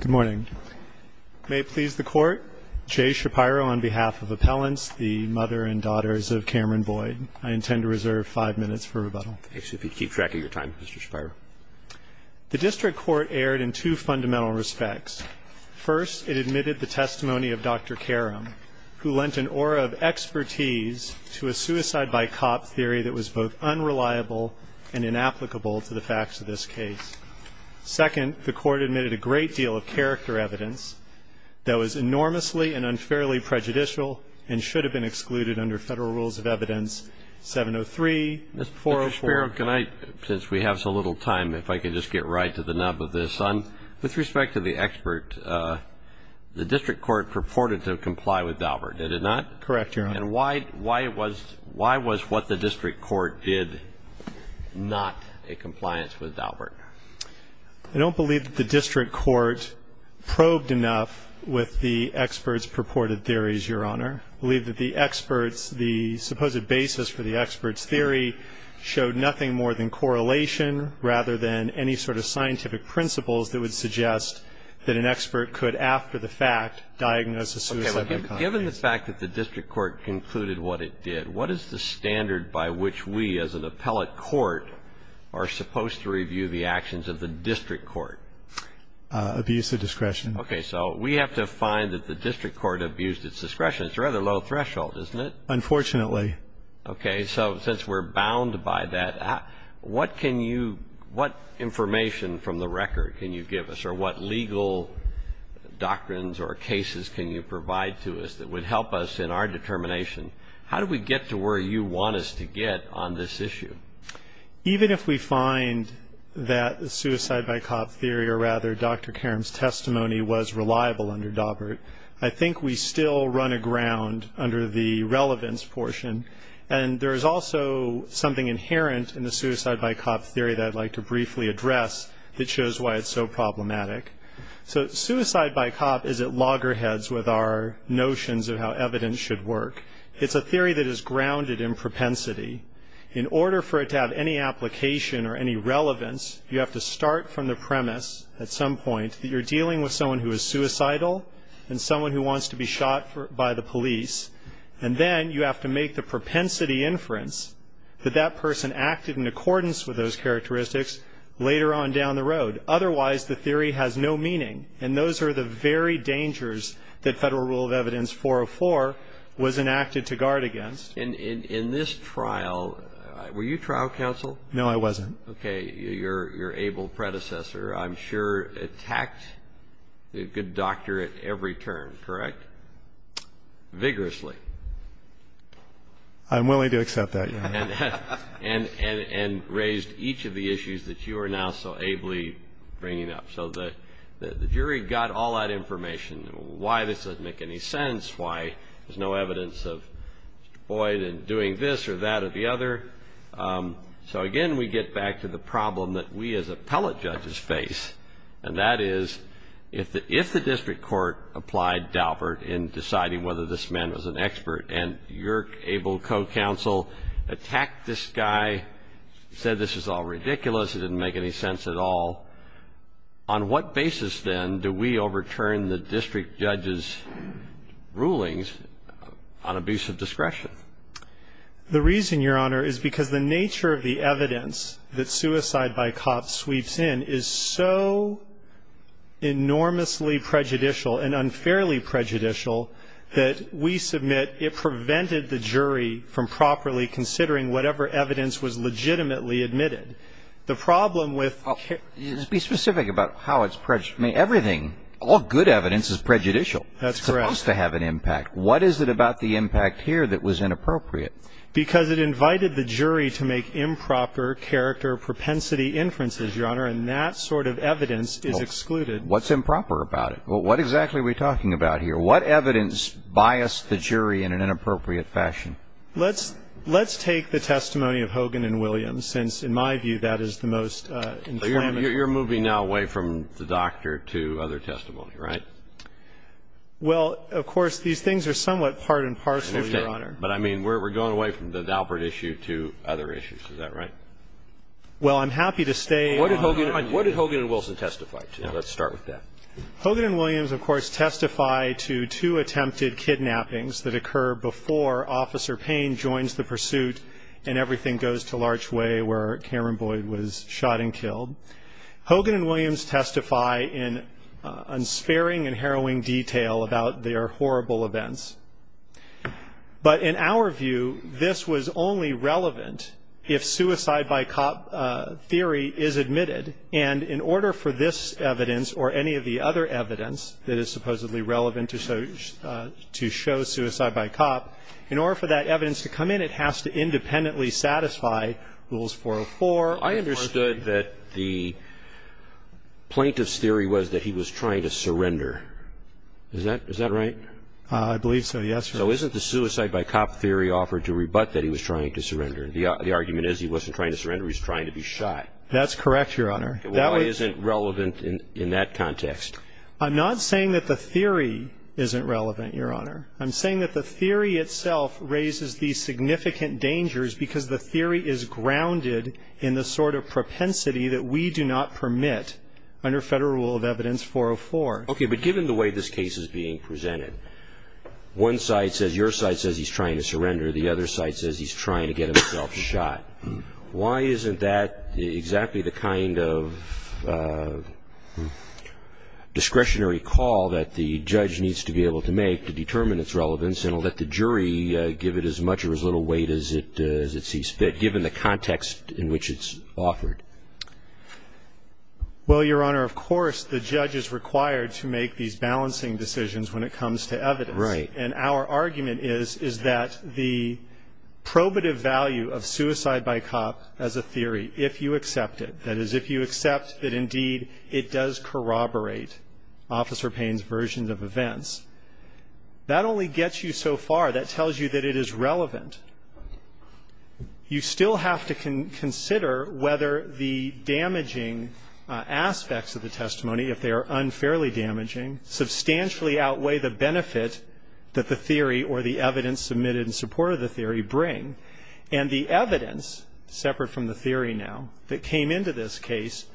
Good morning. May it please the Court, Jay Shapiro on behalf of Appellants, the mother and daughters of Cameron Boyd. I intend to reserve five minutes for rebuttal. If you keep track of your time, Mr. Shapiro. The District Court erred in two fundamental respects. First, it admitted the testimony of Dr. Karam, who lent an aura of expertise to a suicide-by-cop theory that was both unreliable and inapplicable to the facts of this case. Second, the Court admitted a great deal of character evidence that was enormously and unfairly prejudicial and should have been excluded under Federal Rules of Evidence 703. Mr. Shapiro, since we have so little time, if I could just get right to the nub of this. With respect to the expert, the District Court purported to comply with Daubert, did it not? Correct, Your Honor. And why was what the District Court did not a compliance with Daubert? I don't believe that the District Court probed enough with the expert's purported theories, Your Honor. I believe that the expert's, the supposed basis for the expert's theory showed nothing more than correlation rather than any sort of scientific principles that would suggest that an expert could, after the fact, diagnose a suicide-by-cop theory. Given the fact that the District Court concluded what it did, what is the standard by which we as an appellate court are supposed to review the actions of the District Court? Abuse of discretion. Okay, so we have to find that the District Court abused its discretion. It's a rather low threshold, isn't it? Unfortunately. Okay, so since we're bound by that, what can you, what information from the record can you give us, or what legal doctrines or cases can you provide to us that would help us in our determination? How do we get to where you want us to get on this issue? Even if we find that the suicide-by-cop theory, or rather Dr. Karam's testimony, was reliable under Daubert, I think we still run aground under the relevance portion. And there is also something inherent in the suicide-by-cop theory that I'd like to briefly address that shows why it's so problematic. So suicide-by-cop is at loggerheads with our notions of how evidence should work. It's a theory that is grounded in propensity. In order for it to have any application or any relevance, you have to start from the premise at some point that you're dealing with someone who is suicidal and someone who wants to be shot by the police. And then you have to make the propensity inference that that person acted in accordance with those characteristics later on down the road. Otherwise, the theory has no meaning, and those are the very dangers that Federal Rule of Evidence 404 was enacted to guard against. In this trial, were you trial counsel? No, I wasn't. Okay, your able predecessor, I'm sure, attacked the good doctor at every turn, correct? Vigorously. I'm willing to accept that, Your Honor. And raised each of the issues that you are now so ably bringing up. So the jury got all that information, why this doesn't make any sense, why there's no evidence of Boyd doing this or that or the other. So, again, we get back to the problem that we as appellate judges face, and that is if the district court applied Daubert in deciding whether this man was an expert and your able co-counsel attacked this guy, said this is all ridiculous, it didn't make any sense at all, on what basis then do we overturn the district judge's rulings on abusive discretion? The reason, Your Honor, is because the nature of the evidence that suicide by cops sweeps in is so enormously prejudicial and unfairly prejudicial that we submit it prevented the jury from properly considering whatever evidence was legitimately admitted. The problem with care... Be specific about how it's prejudicial. I mean, everything, all good evidence is prejudicial. That's correct. It's supposed to have an impact. What is it about the impact here that was inappropriate? Because it invited the jury to make improper character propensity inferences, Your Honor, and that sort of evidence is excluded. Well, what's improper about it? Well, what exactly are we talking about here? What evidence biased the jury in an inappropriate fashion? Let's take the testimony of Hogan and Williams since, in my view, that is the most inflammatory. You're moving now away from the doctor to other testimony, right? Well, of course, these things are somewhat part and parcel, Your Honor. But, I mean, we're going away from the Daubert issue to other issues. Is that right? Well, I'm happy to stay... What did Hogan and Wilson testify to? Let's start with that. Hogan and Williams, of course, testify to two attempted kidnappings that occur before Officer Payne joins the pursuit and everything goes to large way where Cameron Boyd was shot and killed. Hogan and Williams testify in unsparing and harrowing detail about their horrible events. But, in our view, this was only relevant if suicide by cop theory is admitted. And in order for this evidence or any of the other evidence that is supposedly relevant to show suicide by cop, in order for that evidence to come in, it has to independently satisfy Rules 404. I understood that the plaintiff's theory was that he was trying to surrender. Is that right? I believe so, yes, Your Honor. So isn't the suicide by cop theory offered to rebut that he was trying to surrender? The argument is he wasn't trying to surrender, he was trying to be shot. That's correct, Your Honor. Why isn't it relevant in that context? I'm not saying that the theory isn't relevant, Your Honor. I'm saying that the theory itself raises these significant dangers because the theory is grounded in the sort of propensity that we do not permit under Federal Rule of Evidence 404. Okay. But given the way this case is being presented, one side says, your side says he's trying to surrender, the other side says he's trying to get himself shot. Why isn't that exactly the kind of discretionary call that the judge needs to be able to make to determine its relevance and let the jury give it as much or as little weight as it sees fit, given the context in which it's offered? Well, Your Honor, of course the judge is required to make these balancing decisions when it comes to evidence. Right. And our argument is that the probative value of suicide by cop as a theory, if you accept it, that is if you accept that indeed it does corroborate Officer Payne's versions of events, that only gets you so far, that tells you that it is relevant. You still have to consider whether the damaging aspects of the testimony, if they are unfairly damaging, substantially outweigh the benefit that the theory or the evidence submitted in support of the theory bring. And the evidence, separate from the theory now, that came into this case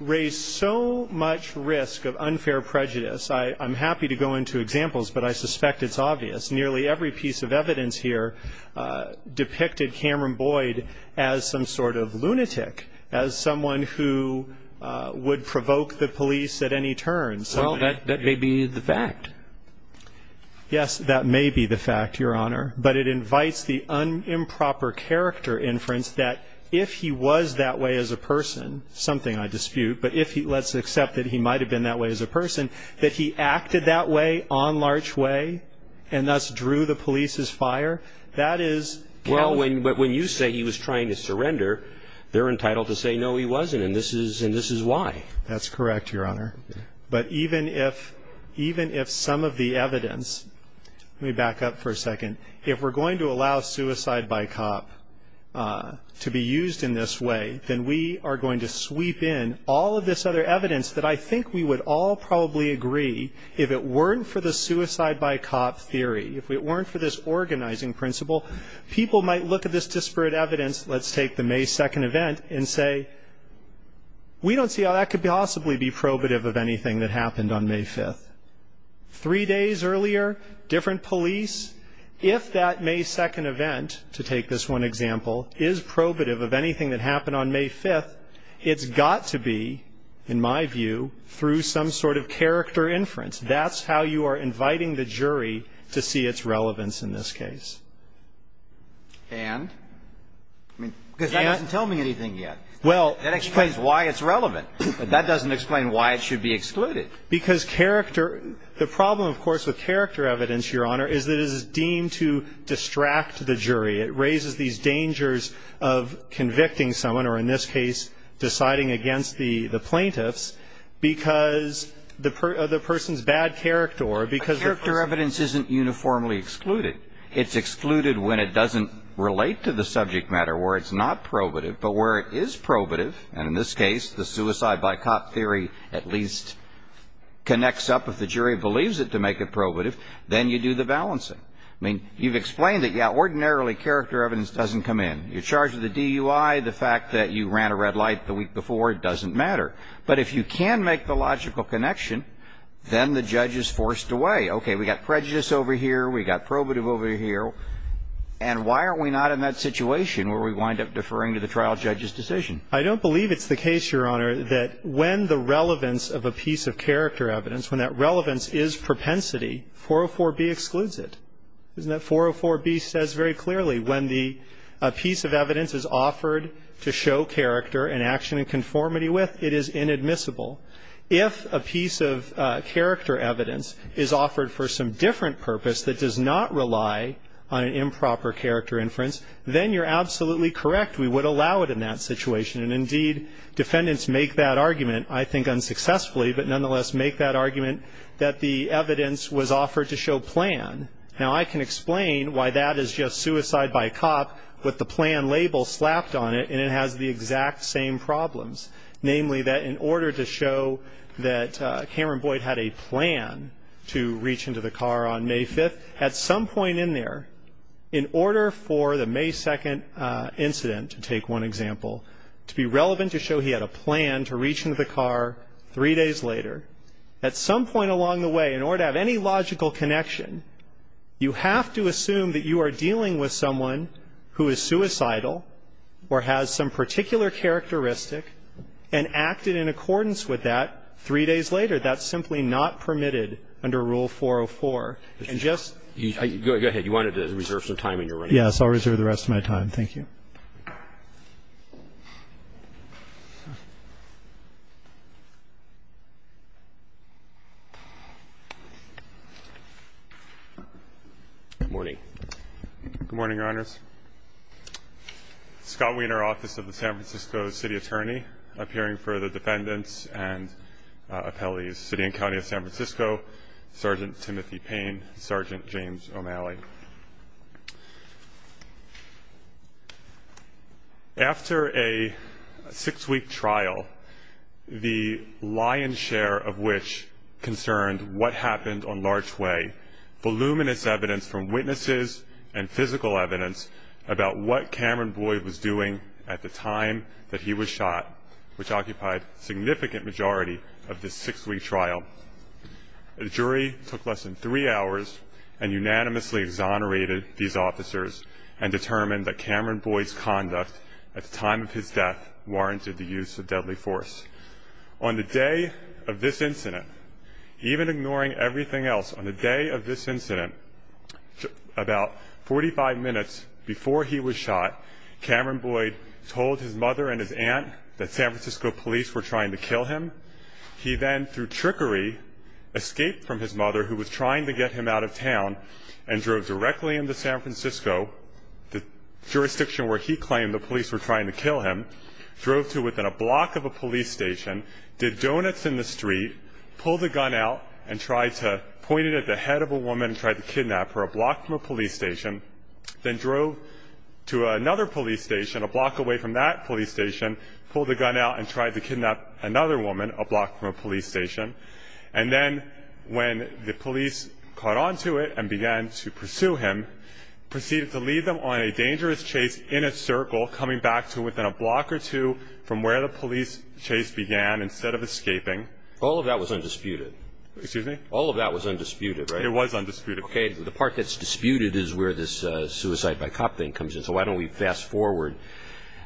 raised so much risk of unfair prejudice. I'm happy to go into examples, but I suspect it's obvious. Nearly every piece of evidence here depicted Cameron Boyd as some sort of lunatic, as someone who would provoke the police at any turn. Well, that may be the fact. Yes, that may be the fact, Your Honor. But it invites the improper character inference that if he was that way as a person, something I dispute, but let's accept that he might have been that way as a person, that he acted that way on large way and thus drew the police's fire, that is... Well, when you say he was trying to surrender, they're entitled to say, no, he wasn't, and this is why. That's correct, Your Honor. But even if some of the evidence... Let me back up for a second. If we're going to allow suicide by cop to be used in this way, then we are going to sweep in all of this other evidence that I think we would all probably agree, if it weren't for the suicide by cop theory, if it weren't for this organizing principle, people might look at this disparate evidence, let's take the May 2nd event, and say, we don't see how that could possibly be probative of anything that happened on May 5th. Three days earlier, different police. If that May 2nd event, to take this one example, is probative of anything that happened on May 5th, it's got to be, in my view, through some sort of character inference. That's how you are inviting the jury to see its relevance in this case. And? Because that doesn't tell me anything yet. Well... That explains why it's relevant, but that doesn't explain why it should be excluded. Because character... The problem, of course, with character evidence, Your Honor, is that it is deemed to distract the jury. It raises these dangers of convicting someone, or in this case, deciding against the plaintiffs, because of the person's bad character, or because... Character evidence isn't uniformly excluded. It's excluded when it doesn't relate to the subject matter, where it's not probative. But where it is probative, and in this case, the suicide by cop theory at least connects up, if the jury believes it to make it probative, then you do the balancing. I mean, you've explained it. Yeah, ordinarily, character evidence doesn't come in. You're charged with a DUI. The fact that you ran a red light the week before, it doesn't matter. But if you can make the logical connection, then the judge is forced away. Okay, we've got prejudice over here. We've got probative over here. And why aren't we not in that situation where we wind up deferring to the trial judge's decision? I don't believe it's the case, Your Honor, that when the relevance of a piece of character evidence, when that relevance is propensity, 404B excludes it, isn't it? 404B says very clearly when the piece of evidence is offered to show character and action in conformity with, it is inadmissible. If a piece of character evidence is offered for some different purpose that does not rely on improper character inference, then you're absolutely correct. We would allow it in that situation. And, indeed, defendants make that argument, I think, unsuccessfully, but nonetheless make that argument that the evidence was offered to show plan. Now, I can explain why that is just suicide by cop with the plan label slapped on it, and it has the exact same problems, namely that in order to show that Cameron Boyd had a plan to reach into the car on May 5th, at some point in there, in order for the May 2nd incident, to take one example, to be relevant to show he had a plan to reach into the car three days later, at some point along the way, in order to have any logical connection, you have to assume that you are dealing with someone who is suicidal or has some particular characteristic and acted in accordance with that three days later. That's simply not permitted under Rule 404. And just go ahead. I guess I'll reserve the rest of my time. Thank you. Good morning. Good morning, Your Honors. Scott Wiener, Office of the San Francisco City Attorney, appearing for the defendants and appellees, City and County of San Francisco, Sergeant Timothy Payne, Sergeant James O'Malley. After a six-week trial, the lion's share of which concerned what happened on Larch Way, voluminous evidence from witnesses and physical evidence about what Cameron Boyd was doing at the time that he was shot, which occupied a significant majority of this six-week trial. The jury took less than three hours and unanimously exonerated these officers and determined that Cameron Boyd's conduct at the time of his death warranted the use of deadly force. On the day of this incident, even ignoring everything else, on the day of this incident, about 45 minutes before he was shot, Cameron Boyd told his mother and his aunt that San Francisco police were trying to kill him. He then, through trickery, escaped from his mother, who was trying to get him out of town, and drove directly into San Francisco, the jurisdiction where he claimed the police were trying to kill him, drove to within a block of a police station, did donuts in the street, pulled the gun out, and tried to point it at the head of a woman and tried to kidnap her a block from a police station, then drove to another police station a block away from that police station, pulled the gun out and tried to kidnap another woman a block from a police station. And then when the police caught on to it and began to pursue him, proceeded to lead them on a dangerous chase in a circle, coming back to within a block or two from where the police chase began instead of escaping. All of that was undisputed. Excuse me? All of that was undisputed, right? It was undisputed. Okay. The part that's disputed is where this suicide by cop thing comes in. So why don't we fast forward.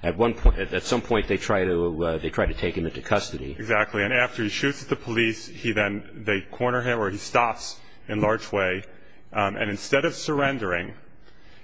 At some point, they try to take him into custody. Exactly. And after he shoots at the police, they corner him, or he stops in large way, and instead of surrendering,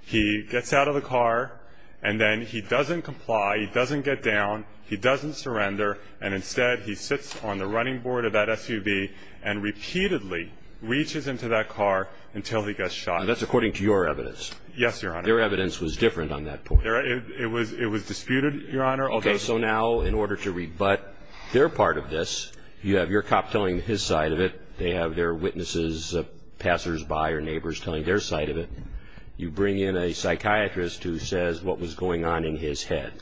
he gets out of the car, and then he doesn't comply, he doesn't get down, he doesn't surrender, and instead he sits on the running board of that SUV and repeatedly reaches into that car until he gets shot. And that's according to your evidence. Yes, Your Honor. Their evidence was different on that point. It was disputed, Your Honor. Okay. So now in order to rebut their part of this, you have your cop telling his side of it, they have their witnesses, passersby or neighbors telling their side of it. You bring in a psychiatrist who says what was going on in his head.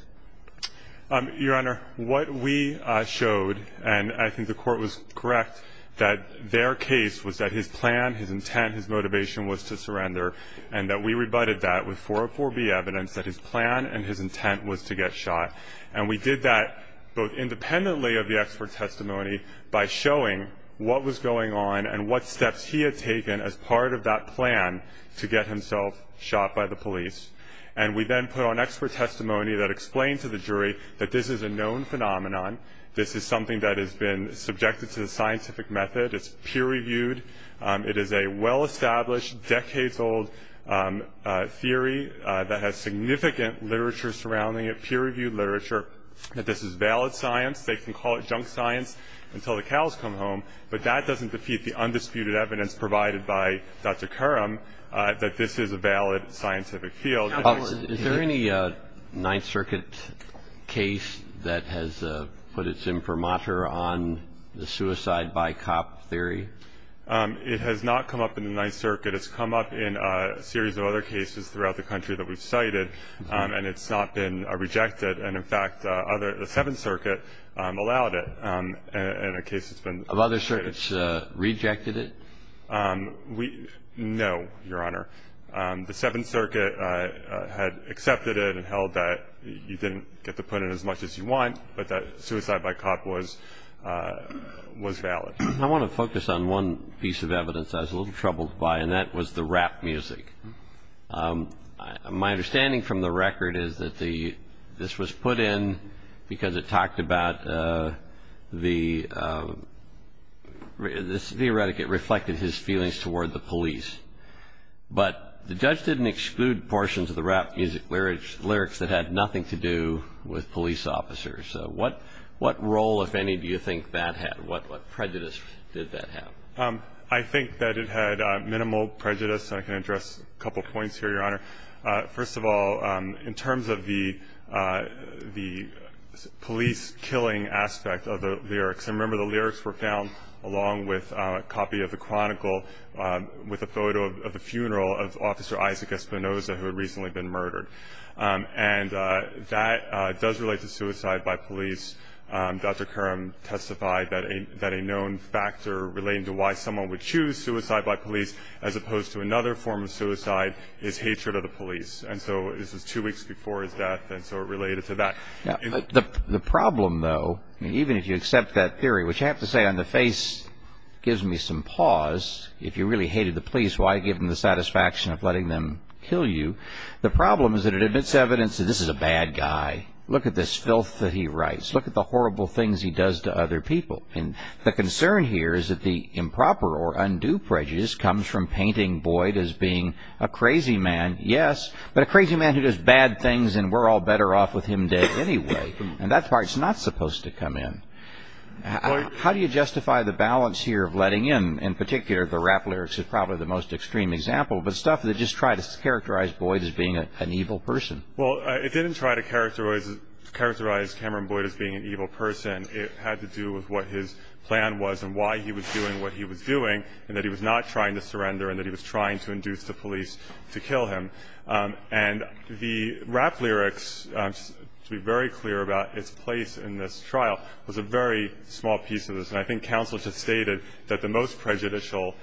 Your Honor, what we showed, and I think the court was correct, that their case was that his plan, his intent, his motivation was to surrender, and that we rebutted that with 404B evidence that his plan and his intent was to get shot. And we did that both independently of the expert testimony by showing what was going on and what steps he had taken as part of that plan to get himself shot by the police. And we then put on expert testimony that explained to the jury that this is a known phenomenon. This is something that has been subjected to the scientific method. It's peer-reviewed. It is a well-established, decades-old theory that has significant literature surrounding it, peer-reviewed literature, that this is valid science. They can call it junk science until the cows come home, but that doesn't defeat the undisputed evidence provided by Dr. Curram that this is a valid scientific field. Is there any Ninth Circuit case that has put its imprimatur on the suicide by cop theory? It has not come up in the Ninth Circuit. It's come up in a series of other cases throughout the country that we've cited, and it's not been rejected. And, in fact, the Seventh Circuit allowed it in a case that's been- Have other circuits rejected it? No, Your Honor. The Seventh Circuit had accepted it and held that you didn't get to put in as much as you want, but that suicide by cop was valid. I want to focus on one piece of evidence I was a little troubled by, and that was the rap music. My understanding from the record is that this was put in because it talked about the- Theoretically, it reflected his feelings toward the police, but the judge didn't exclude portions of the rap music lyrics that had nothing to do with police officers. So what role, if any, do you think that had? What prejudice did that have? I think that it had minimal prejudice, and I can address a couple points here, Your Honor. First of all, in terms of the police killing aspect of the lyrics, I remember the lyrics were found along with a copy of the Chronicle with a photo of the funeral of Officer Isaac Espinosa, who had recently been murdered. And that does relate to suicide by police. Dr. Curran testified that a known factor relating to why someone would choose suicide by police as opposed to another form of suicide is hatred of the police. And so this was two weeks before his death, and so it related to that. The problem, though, even if you accept that theory, which I have to say on the face gives me some pause. If you really hated the police, why give them the satisfaction of letting them kill you? The problem is that it admits evidence that this is a bad guy. Look at this filth that he writes. Look at the horrible things he does to other people. And the concern here is that the improper or undue prejudice comes from painting Boyd as being a crazy man, yes, but a crazy man who does bad things, and we're all better off with him dead anyway. And that part's not supposed to come in. How do you justify the balance here of letting in, in particular, the rap lyrics is probably the most extreme example, but stuff that just tries to characterize Boyd as being an evil person? Well, it didn't try to characterize Cameron Boyd as being an evil person. It had to do with what his plan was and why he was doing what he was doing, and that he was not trying to surrender and that he was trying to induce the police to kill him. And the rap lyrics, to be very clear about its place in this trial, was a very small piece of this, and I think counsel just stated that the most prejudicial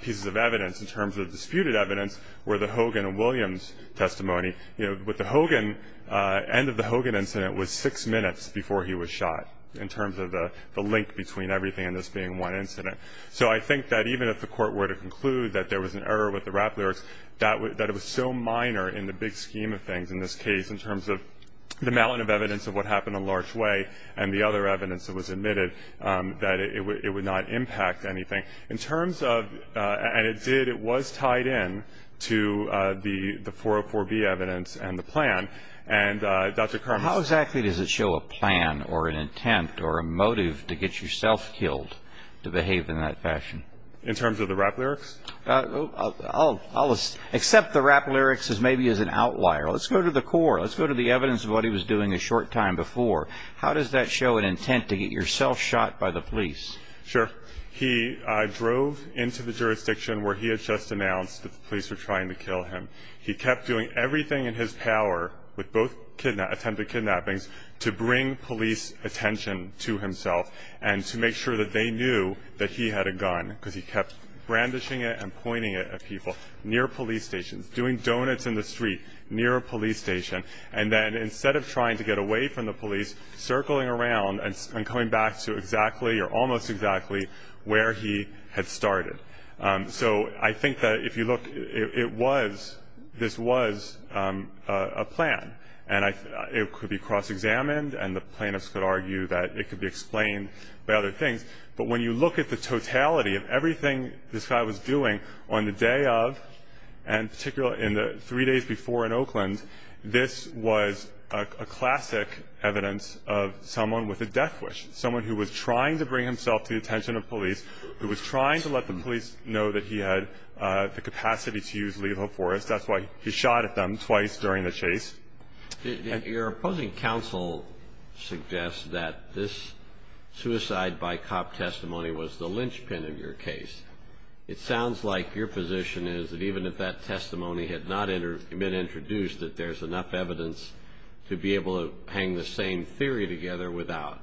pieces of evidence in terms of disputed evidence were the Hogan and Williams testimony. You know, with the Hogan, end of the Hogan incident was six minutes before he was shot in terms of the link between everything and this being one incident. So I think that even if the court were to conclude that there was an error with the rap lyrics, that it was so minor in the big scheme of things in this case in terms of the mountain of evidence of what happened in Larch Way and the other evidence that was admitted that it would not impact anything. In terms of, and it did, it was tied in to the 404B evidence and the plan. And Dr. Carmichael. How exactly does it show a plan or an intent or a motive to get yourself killed to behave in that fashion? In terms of the rap lyrics? I'll accept the rap lyrics as maybe as an outlier. Let's go to the core. Let's go to the evidence of what he was doing a short time before. How does that show an intent to get yourself shot by the police? Sure. He drove into the jurisdiction where he had just announced that the police were trying to kill him. He kept doing everything in his power, with both attempted kidnappings, to bring police attention to himself and to make sure that they knew that he had a gun because he kept brandishing it and pointing it at people near police stations, doing donuts in the street near a police station. And then instead of trying to get away from the police, circling around and coming back to exactly or almost exactly where he had started. So I think that if you look, this was a plan. And it could be cross-examined, and the plaintiffs could argue that it could be explained by other things. But when you look at the totality of everything this guy was doing on the day of, and particularly in the three days before in Oakland, this was a classic evidence of someone with a death wish, someone who was trying to bring himself to the attention of police, who was trying to let the police know that he had the capacity to use lethal force. That's why he shot at them twice during the chase. Your opposing counsel suggests that this suicide by cop testimony was the linchpin of your case. It sounds like your position is that even if that testimony had not been introduced, that there's enough evidence to be able to hang the same theory together without.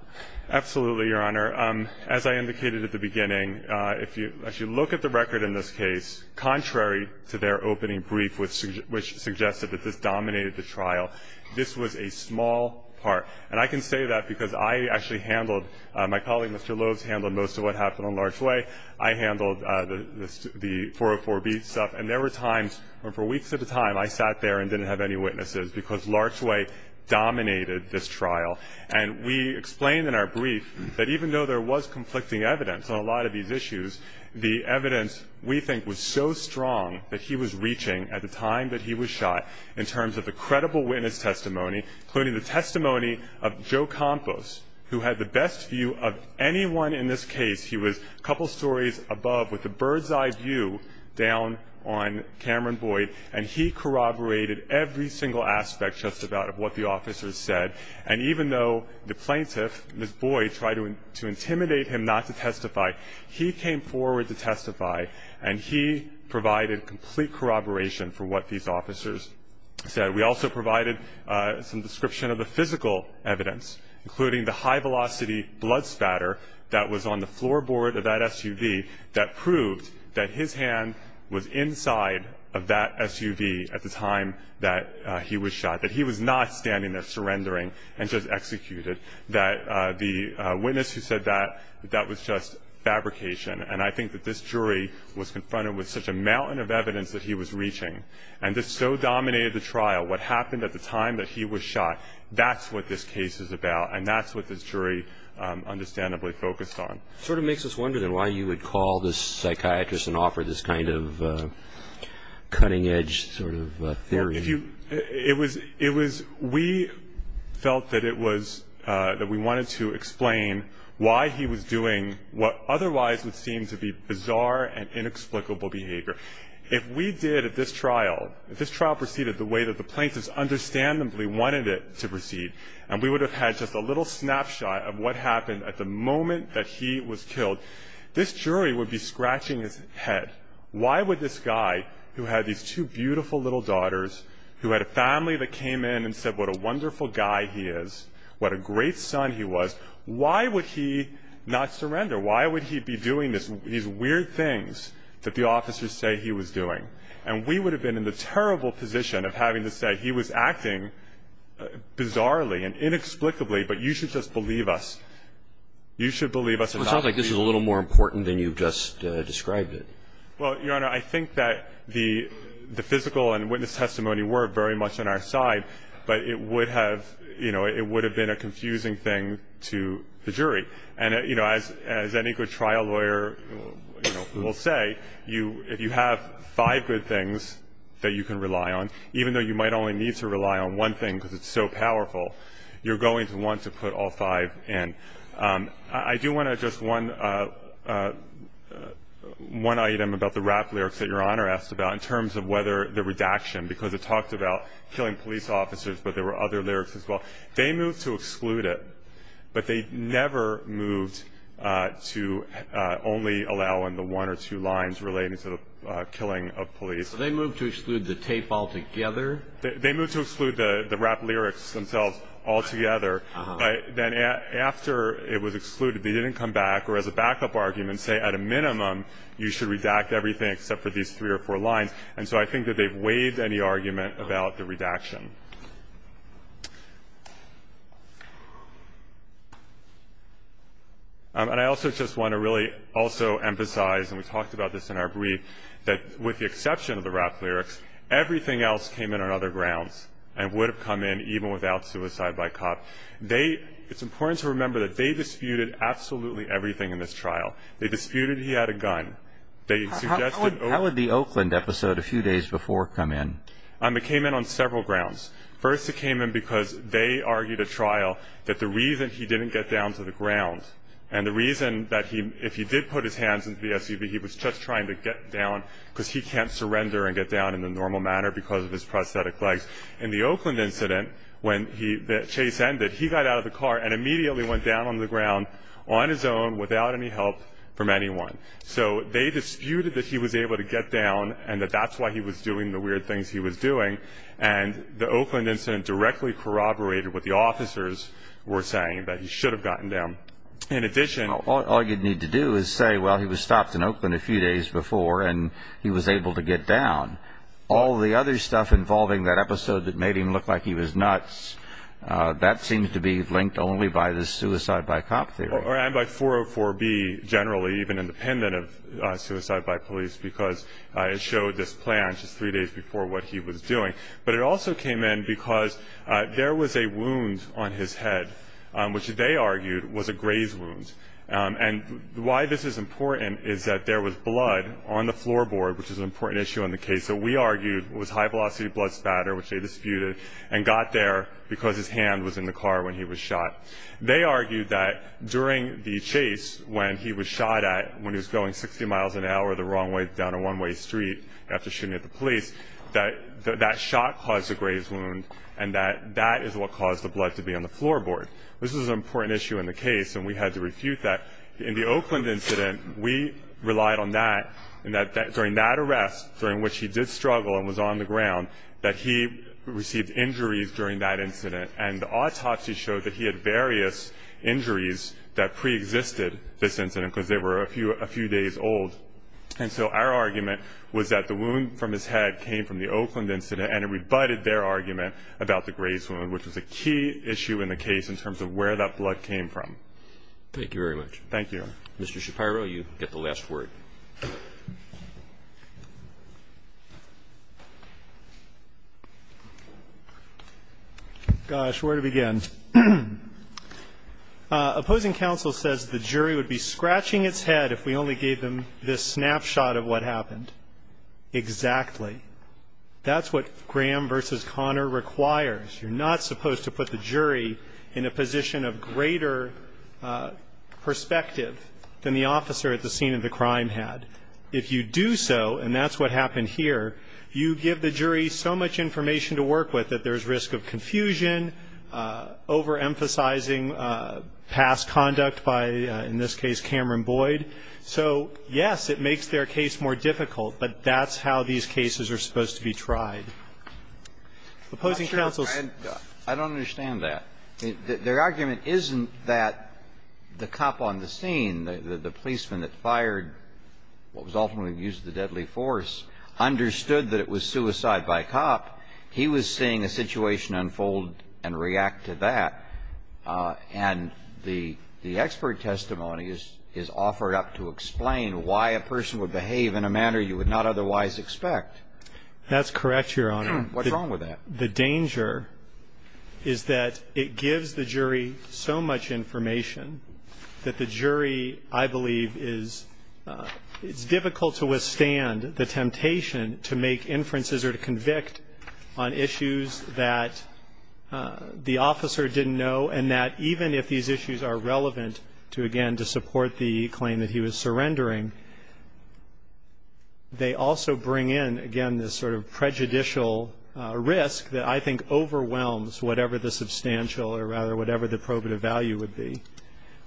Absolutely, Your Honor. As I indicated at the beginning, if you look at the record in this case, contrary to their opening brief, which suggested that this dominated the trial, this was a small part. And I can say that because I actually handled, my colleague, Mr. Lowe, who has handled most of what happened on Larch Way, I handled the 404B stuff. And there were times where for weeks at a time I sat there and didn't have any witnesses because Larch Way dominated this trial. And we explained in our brief that even though there was conflicting evidence on a lot of these issues, the evidence we think was so strong that he was reaching at the time that he was shot in terms of the credible witness testimony, including the testimony of Joe Campos, who had the best view of anyone in this case. He was a couple stories above with a bird's-eye view down on Cameron Boyd, and he corroborated every single aspect, just about, of what the officers said. And even though the plaintiff, Ms. Boyd, tried to intimidate him not to testify, he came forward to testify, and he provided complete corroboration for what these officers said. We also provided some description of the physical evidence, including the high-velocity blood spatter that was on the floorboard of that SUV that proved that his hand was inside of that SUV at the time that he was shot, that he was not standing there surrendering and just executed, that the witness who said that, that was just fabrication. And I think that this jury was confronted with such a mountain of evidence that he was reaching. And this so dominated the trial. What happened at the time that he was shot, that's what this case is about, and that's what this jury understandably focused on. It sort of makes us wonder, then, why you would call this psychiatrist and offer this kind of cutting-edge sort of theory. We felt that we wanted to explain why he was doing what otherwise would seem to be bizarre and inexplicable behavior. If we did at this trial, if this trial proceeded the way that the plaintiffs understandably wanted it to proceed, and we would have had just a little snapshot of what happened at the moment that he was killed, this jury would be scratching its head. Why would this guy, who had these two beautiful little daughters, who had a family that came in and said what a wonderful guy he is, what a great son he was, why would he not surrender? Why would he be doing these weird things that the officers say he was doing? And we would have been in the terrible position of having to say he was acting bizarrely and inexplicably, but you should just believe us. You should believe us. It sounds like this is a little more important than you just described it. Well, Your Honor, I think that the physical and witness testimony were very much on our side, but it would have been a confusing thing to the jury. And as any good trial lawyer will say, if you have five good things that you can rely on, even though you might only need to rely on one thing because it's so powerful, you're going to want to put all five in. I do want to address one item about the rap lyrics that Your Honor asked about in terms of whether the redaction, because it talked about killing police officers, but there were other lyrics as well. They moved to exclude it, but they never moved to only allow in the one or two lines relating to the killing of police. So they moved to exclude the tape altogether? They moved to exclude the rap lyrics themselves altogether. Then after it was excluded, they didn't come back or as a backup argument say at a minimum you should redact everything except for these three or four lines. And so I think that they've waived any argument about the redaction. And I also just want to really also emphasize, and we talked about this in our brief, that with the exception of the rap lyrics, everything else came in on other grounds and would have come in even without suicide by cop. It's important to remember that they disputed absolutely everything in this trial. They disputed he had a gun. How would the Oakland episode a few days before come in? It came in on several grounds. First, it came in because they argued at trial that the reason he didn't get down to the ground and the reason that if he did put his hands into the SUV, he was just trying to get down because he can't surrender and get down in a normal manner because of his prosthetic legs. In the Oakland incident, when the chase ended, he got out of the car and immediately went down on the ground on his own without any help from anyone. So they disputed that he was able to get down and that that's why he was doing the weird things he was doing. And the Oakland incident directly corroborated what the officers were saying, that he should have gotten down. All you'd need to do is say, well, he was stopped in Oakland a few days before and he was able to get down. All the other stuff involving that episode that made him look like he was nuts, that seems to be linked only by the suicide by cop theory. And by 404B generally, even independent of suicide by police, because it showed this plan just three days before what he was doing. But it also came in because there was a wound on his head, which they argued was a graze wound. And why this is important is that there was blood on the floorboard, which is an important issue in the case that we argued was high-velocity blood spatter, which they disputed, and got there because his hand was in the car when he was shot. They argued that during the chase when he was shot at, when he was going 60 miles an hour the wrong way down a one-way street after shooting at the police, that that shot caused a graze wound and that that is what caused the blood to be on the floorboard. This was an important issue in the case, and we had to refute that. In the Oakland incident, we relied on that, and that during that arrest, during which he did struggle and was on the ground, that he received injuries during that incident. And the autopsy showed that he had various injuries that preexisted this incident because they were a few days old. And so our argument was that the wound from his head came from the Oakland incident, and it rebutted their argument about the graze wound, which was a key issue in the case in terms of where that blood came from. Thank you very much. Thank you. Mr. Shapiro, you get the last word. Gosh, where to begin? Opposing counsel says the jury would be scratching its head if we only gave them this snapshot of what happened. Exactly. That's what Graham v. Conner requires. You're not supposed to put the jury in a position of greater perspective than the officer at the scene of the crime had. If you do so, and that's what happened here, you give the jury so much information to work with that there's risk of confusion, overemphasizing past conduct by, in this case, Cameron Boyd. So, yes, it makes their case more difficult, but that's how these cases are supposed to be tried. Opposing counsel's ---- I don't understand that. Their argument isn't that the cop on the scene, the policeman that fired what was ultimately used as a deadly force, understood that it was suicide by cop. He was seeing a situation unfold and react to that. And the expert testimony is offered up to explain why a person would behave in a manner you would not otherwise expect. That's correct, Your Honor. What's wrong with that? The danger is that it gives the jury so much information that the jury, I believe, is ---- it's difficult to withstand the temptation to make inferences or to convict on issues that the officer didn't know, and that even if these issues are relevant to, again, to support the claim that he was surrendering, they also bring in, again, this sort of prejudicial risk that I think overwhelms whatever the substantial or rather whatever the probative value would be.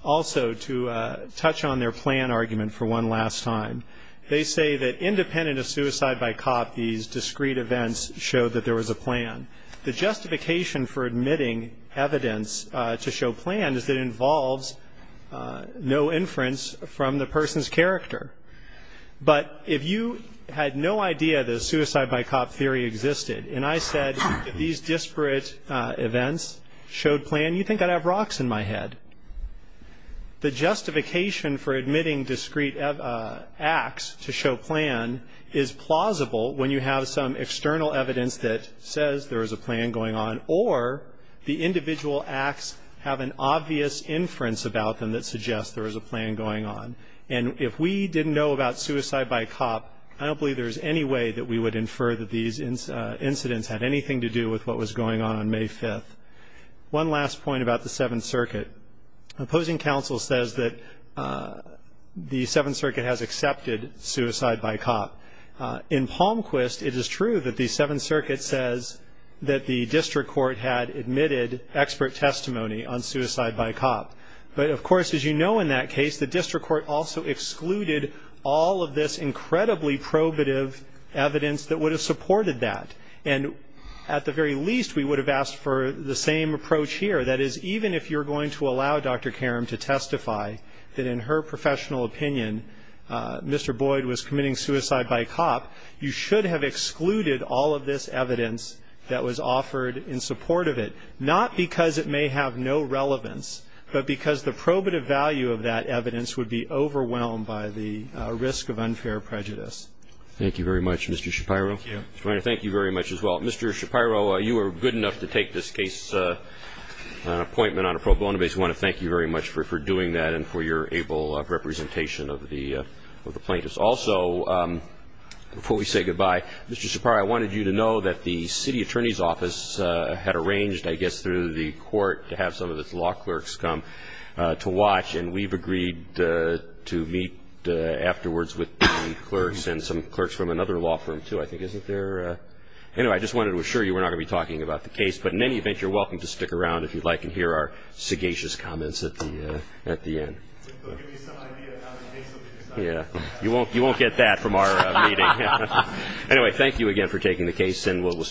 Also, to touch on their plan argument for one last time, they say that independent of suicide by cop, these discrete events show that there was a plan. The justification for admitting evidence to show plan is that it involves no inference from the person's character. But if you had no idea that a suicide by cop theory existed, and I said that these disparate events showed plan, you'd think I'd have rocks in my head. The justification for admitting discrete acts to show plan is plausible when you have some external evidence that says there is a plan going on or the individual acts have an obvious inference about them that suggests there is a plan going on. And if we didn't know about suicide by cop, I don't believe there's any way that we would infer that these incidents had anything to do with what was going on on May 5th. One last point about the Seventh Circuit. Opposing counsel says that the Seventh Circuit has accepted suicide by cop. In Palmquist, it is true that the Seventh Circuit says that the district court had admitted expert testimony on suicide by cop. But, of course, as you know in that case, the district court also excluded all of this incredibly probative evidence that would have supported that. And at the very least, we would have asked for the same approach here. That is, even if you're going to allow Dr. Karam to testify that in her professional opinion Mr. Boyd was committing suicide by cop, you should have excluded all of this evidence that was offered in support of it, not because it may have no relevance, but because the probative value of that evidence would be overwhelmed by the risk of unfair prejudice. Thank you very much, Mr. Shapiro. Thank you. Thank you very much as well. Mr. Shapiro, you were good enough to take this case appointment on a pro bono basis. We want to thank you very much for doing that and for your able representation of the plaintiffs. Also, before we say goodbye, Mr. Shapiro, I wanted you to know that the city attorney's office had arranged, I guess, through the court to have some of its law clerks come to watch, and we've agreed to meet afterwards with the clerks and some clerks from another law firm too, I think, isn't there? Anyway, I just wanted to assure you we're not going to be talking about the case, but in any event, you're welcome to stick around if you'd like and hear our sagacious comments at the end. They'll give you some idea how to make something sound. You won't get that from our meeting. Anyway, thank you again for taking the case, and we'll stand at recess.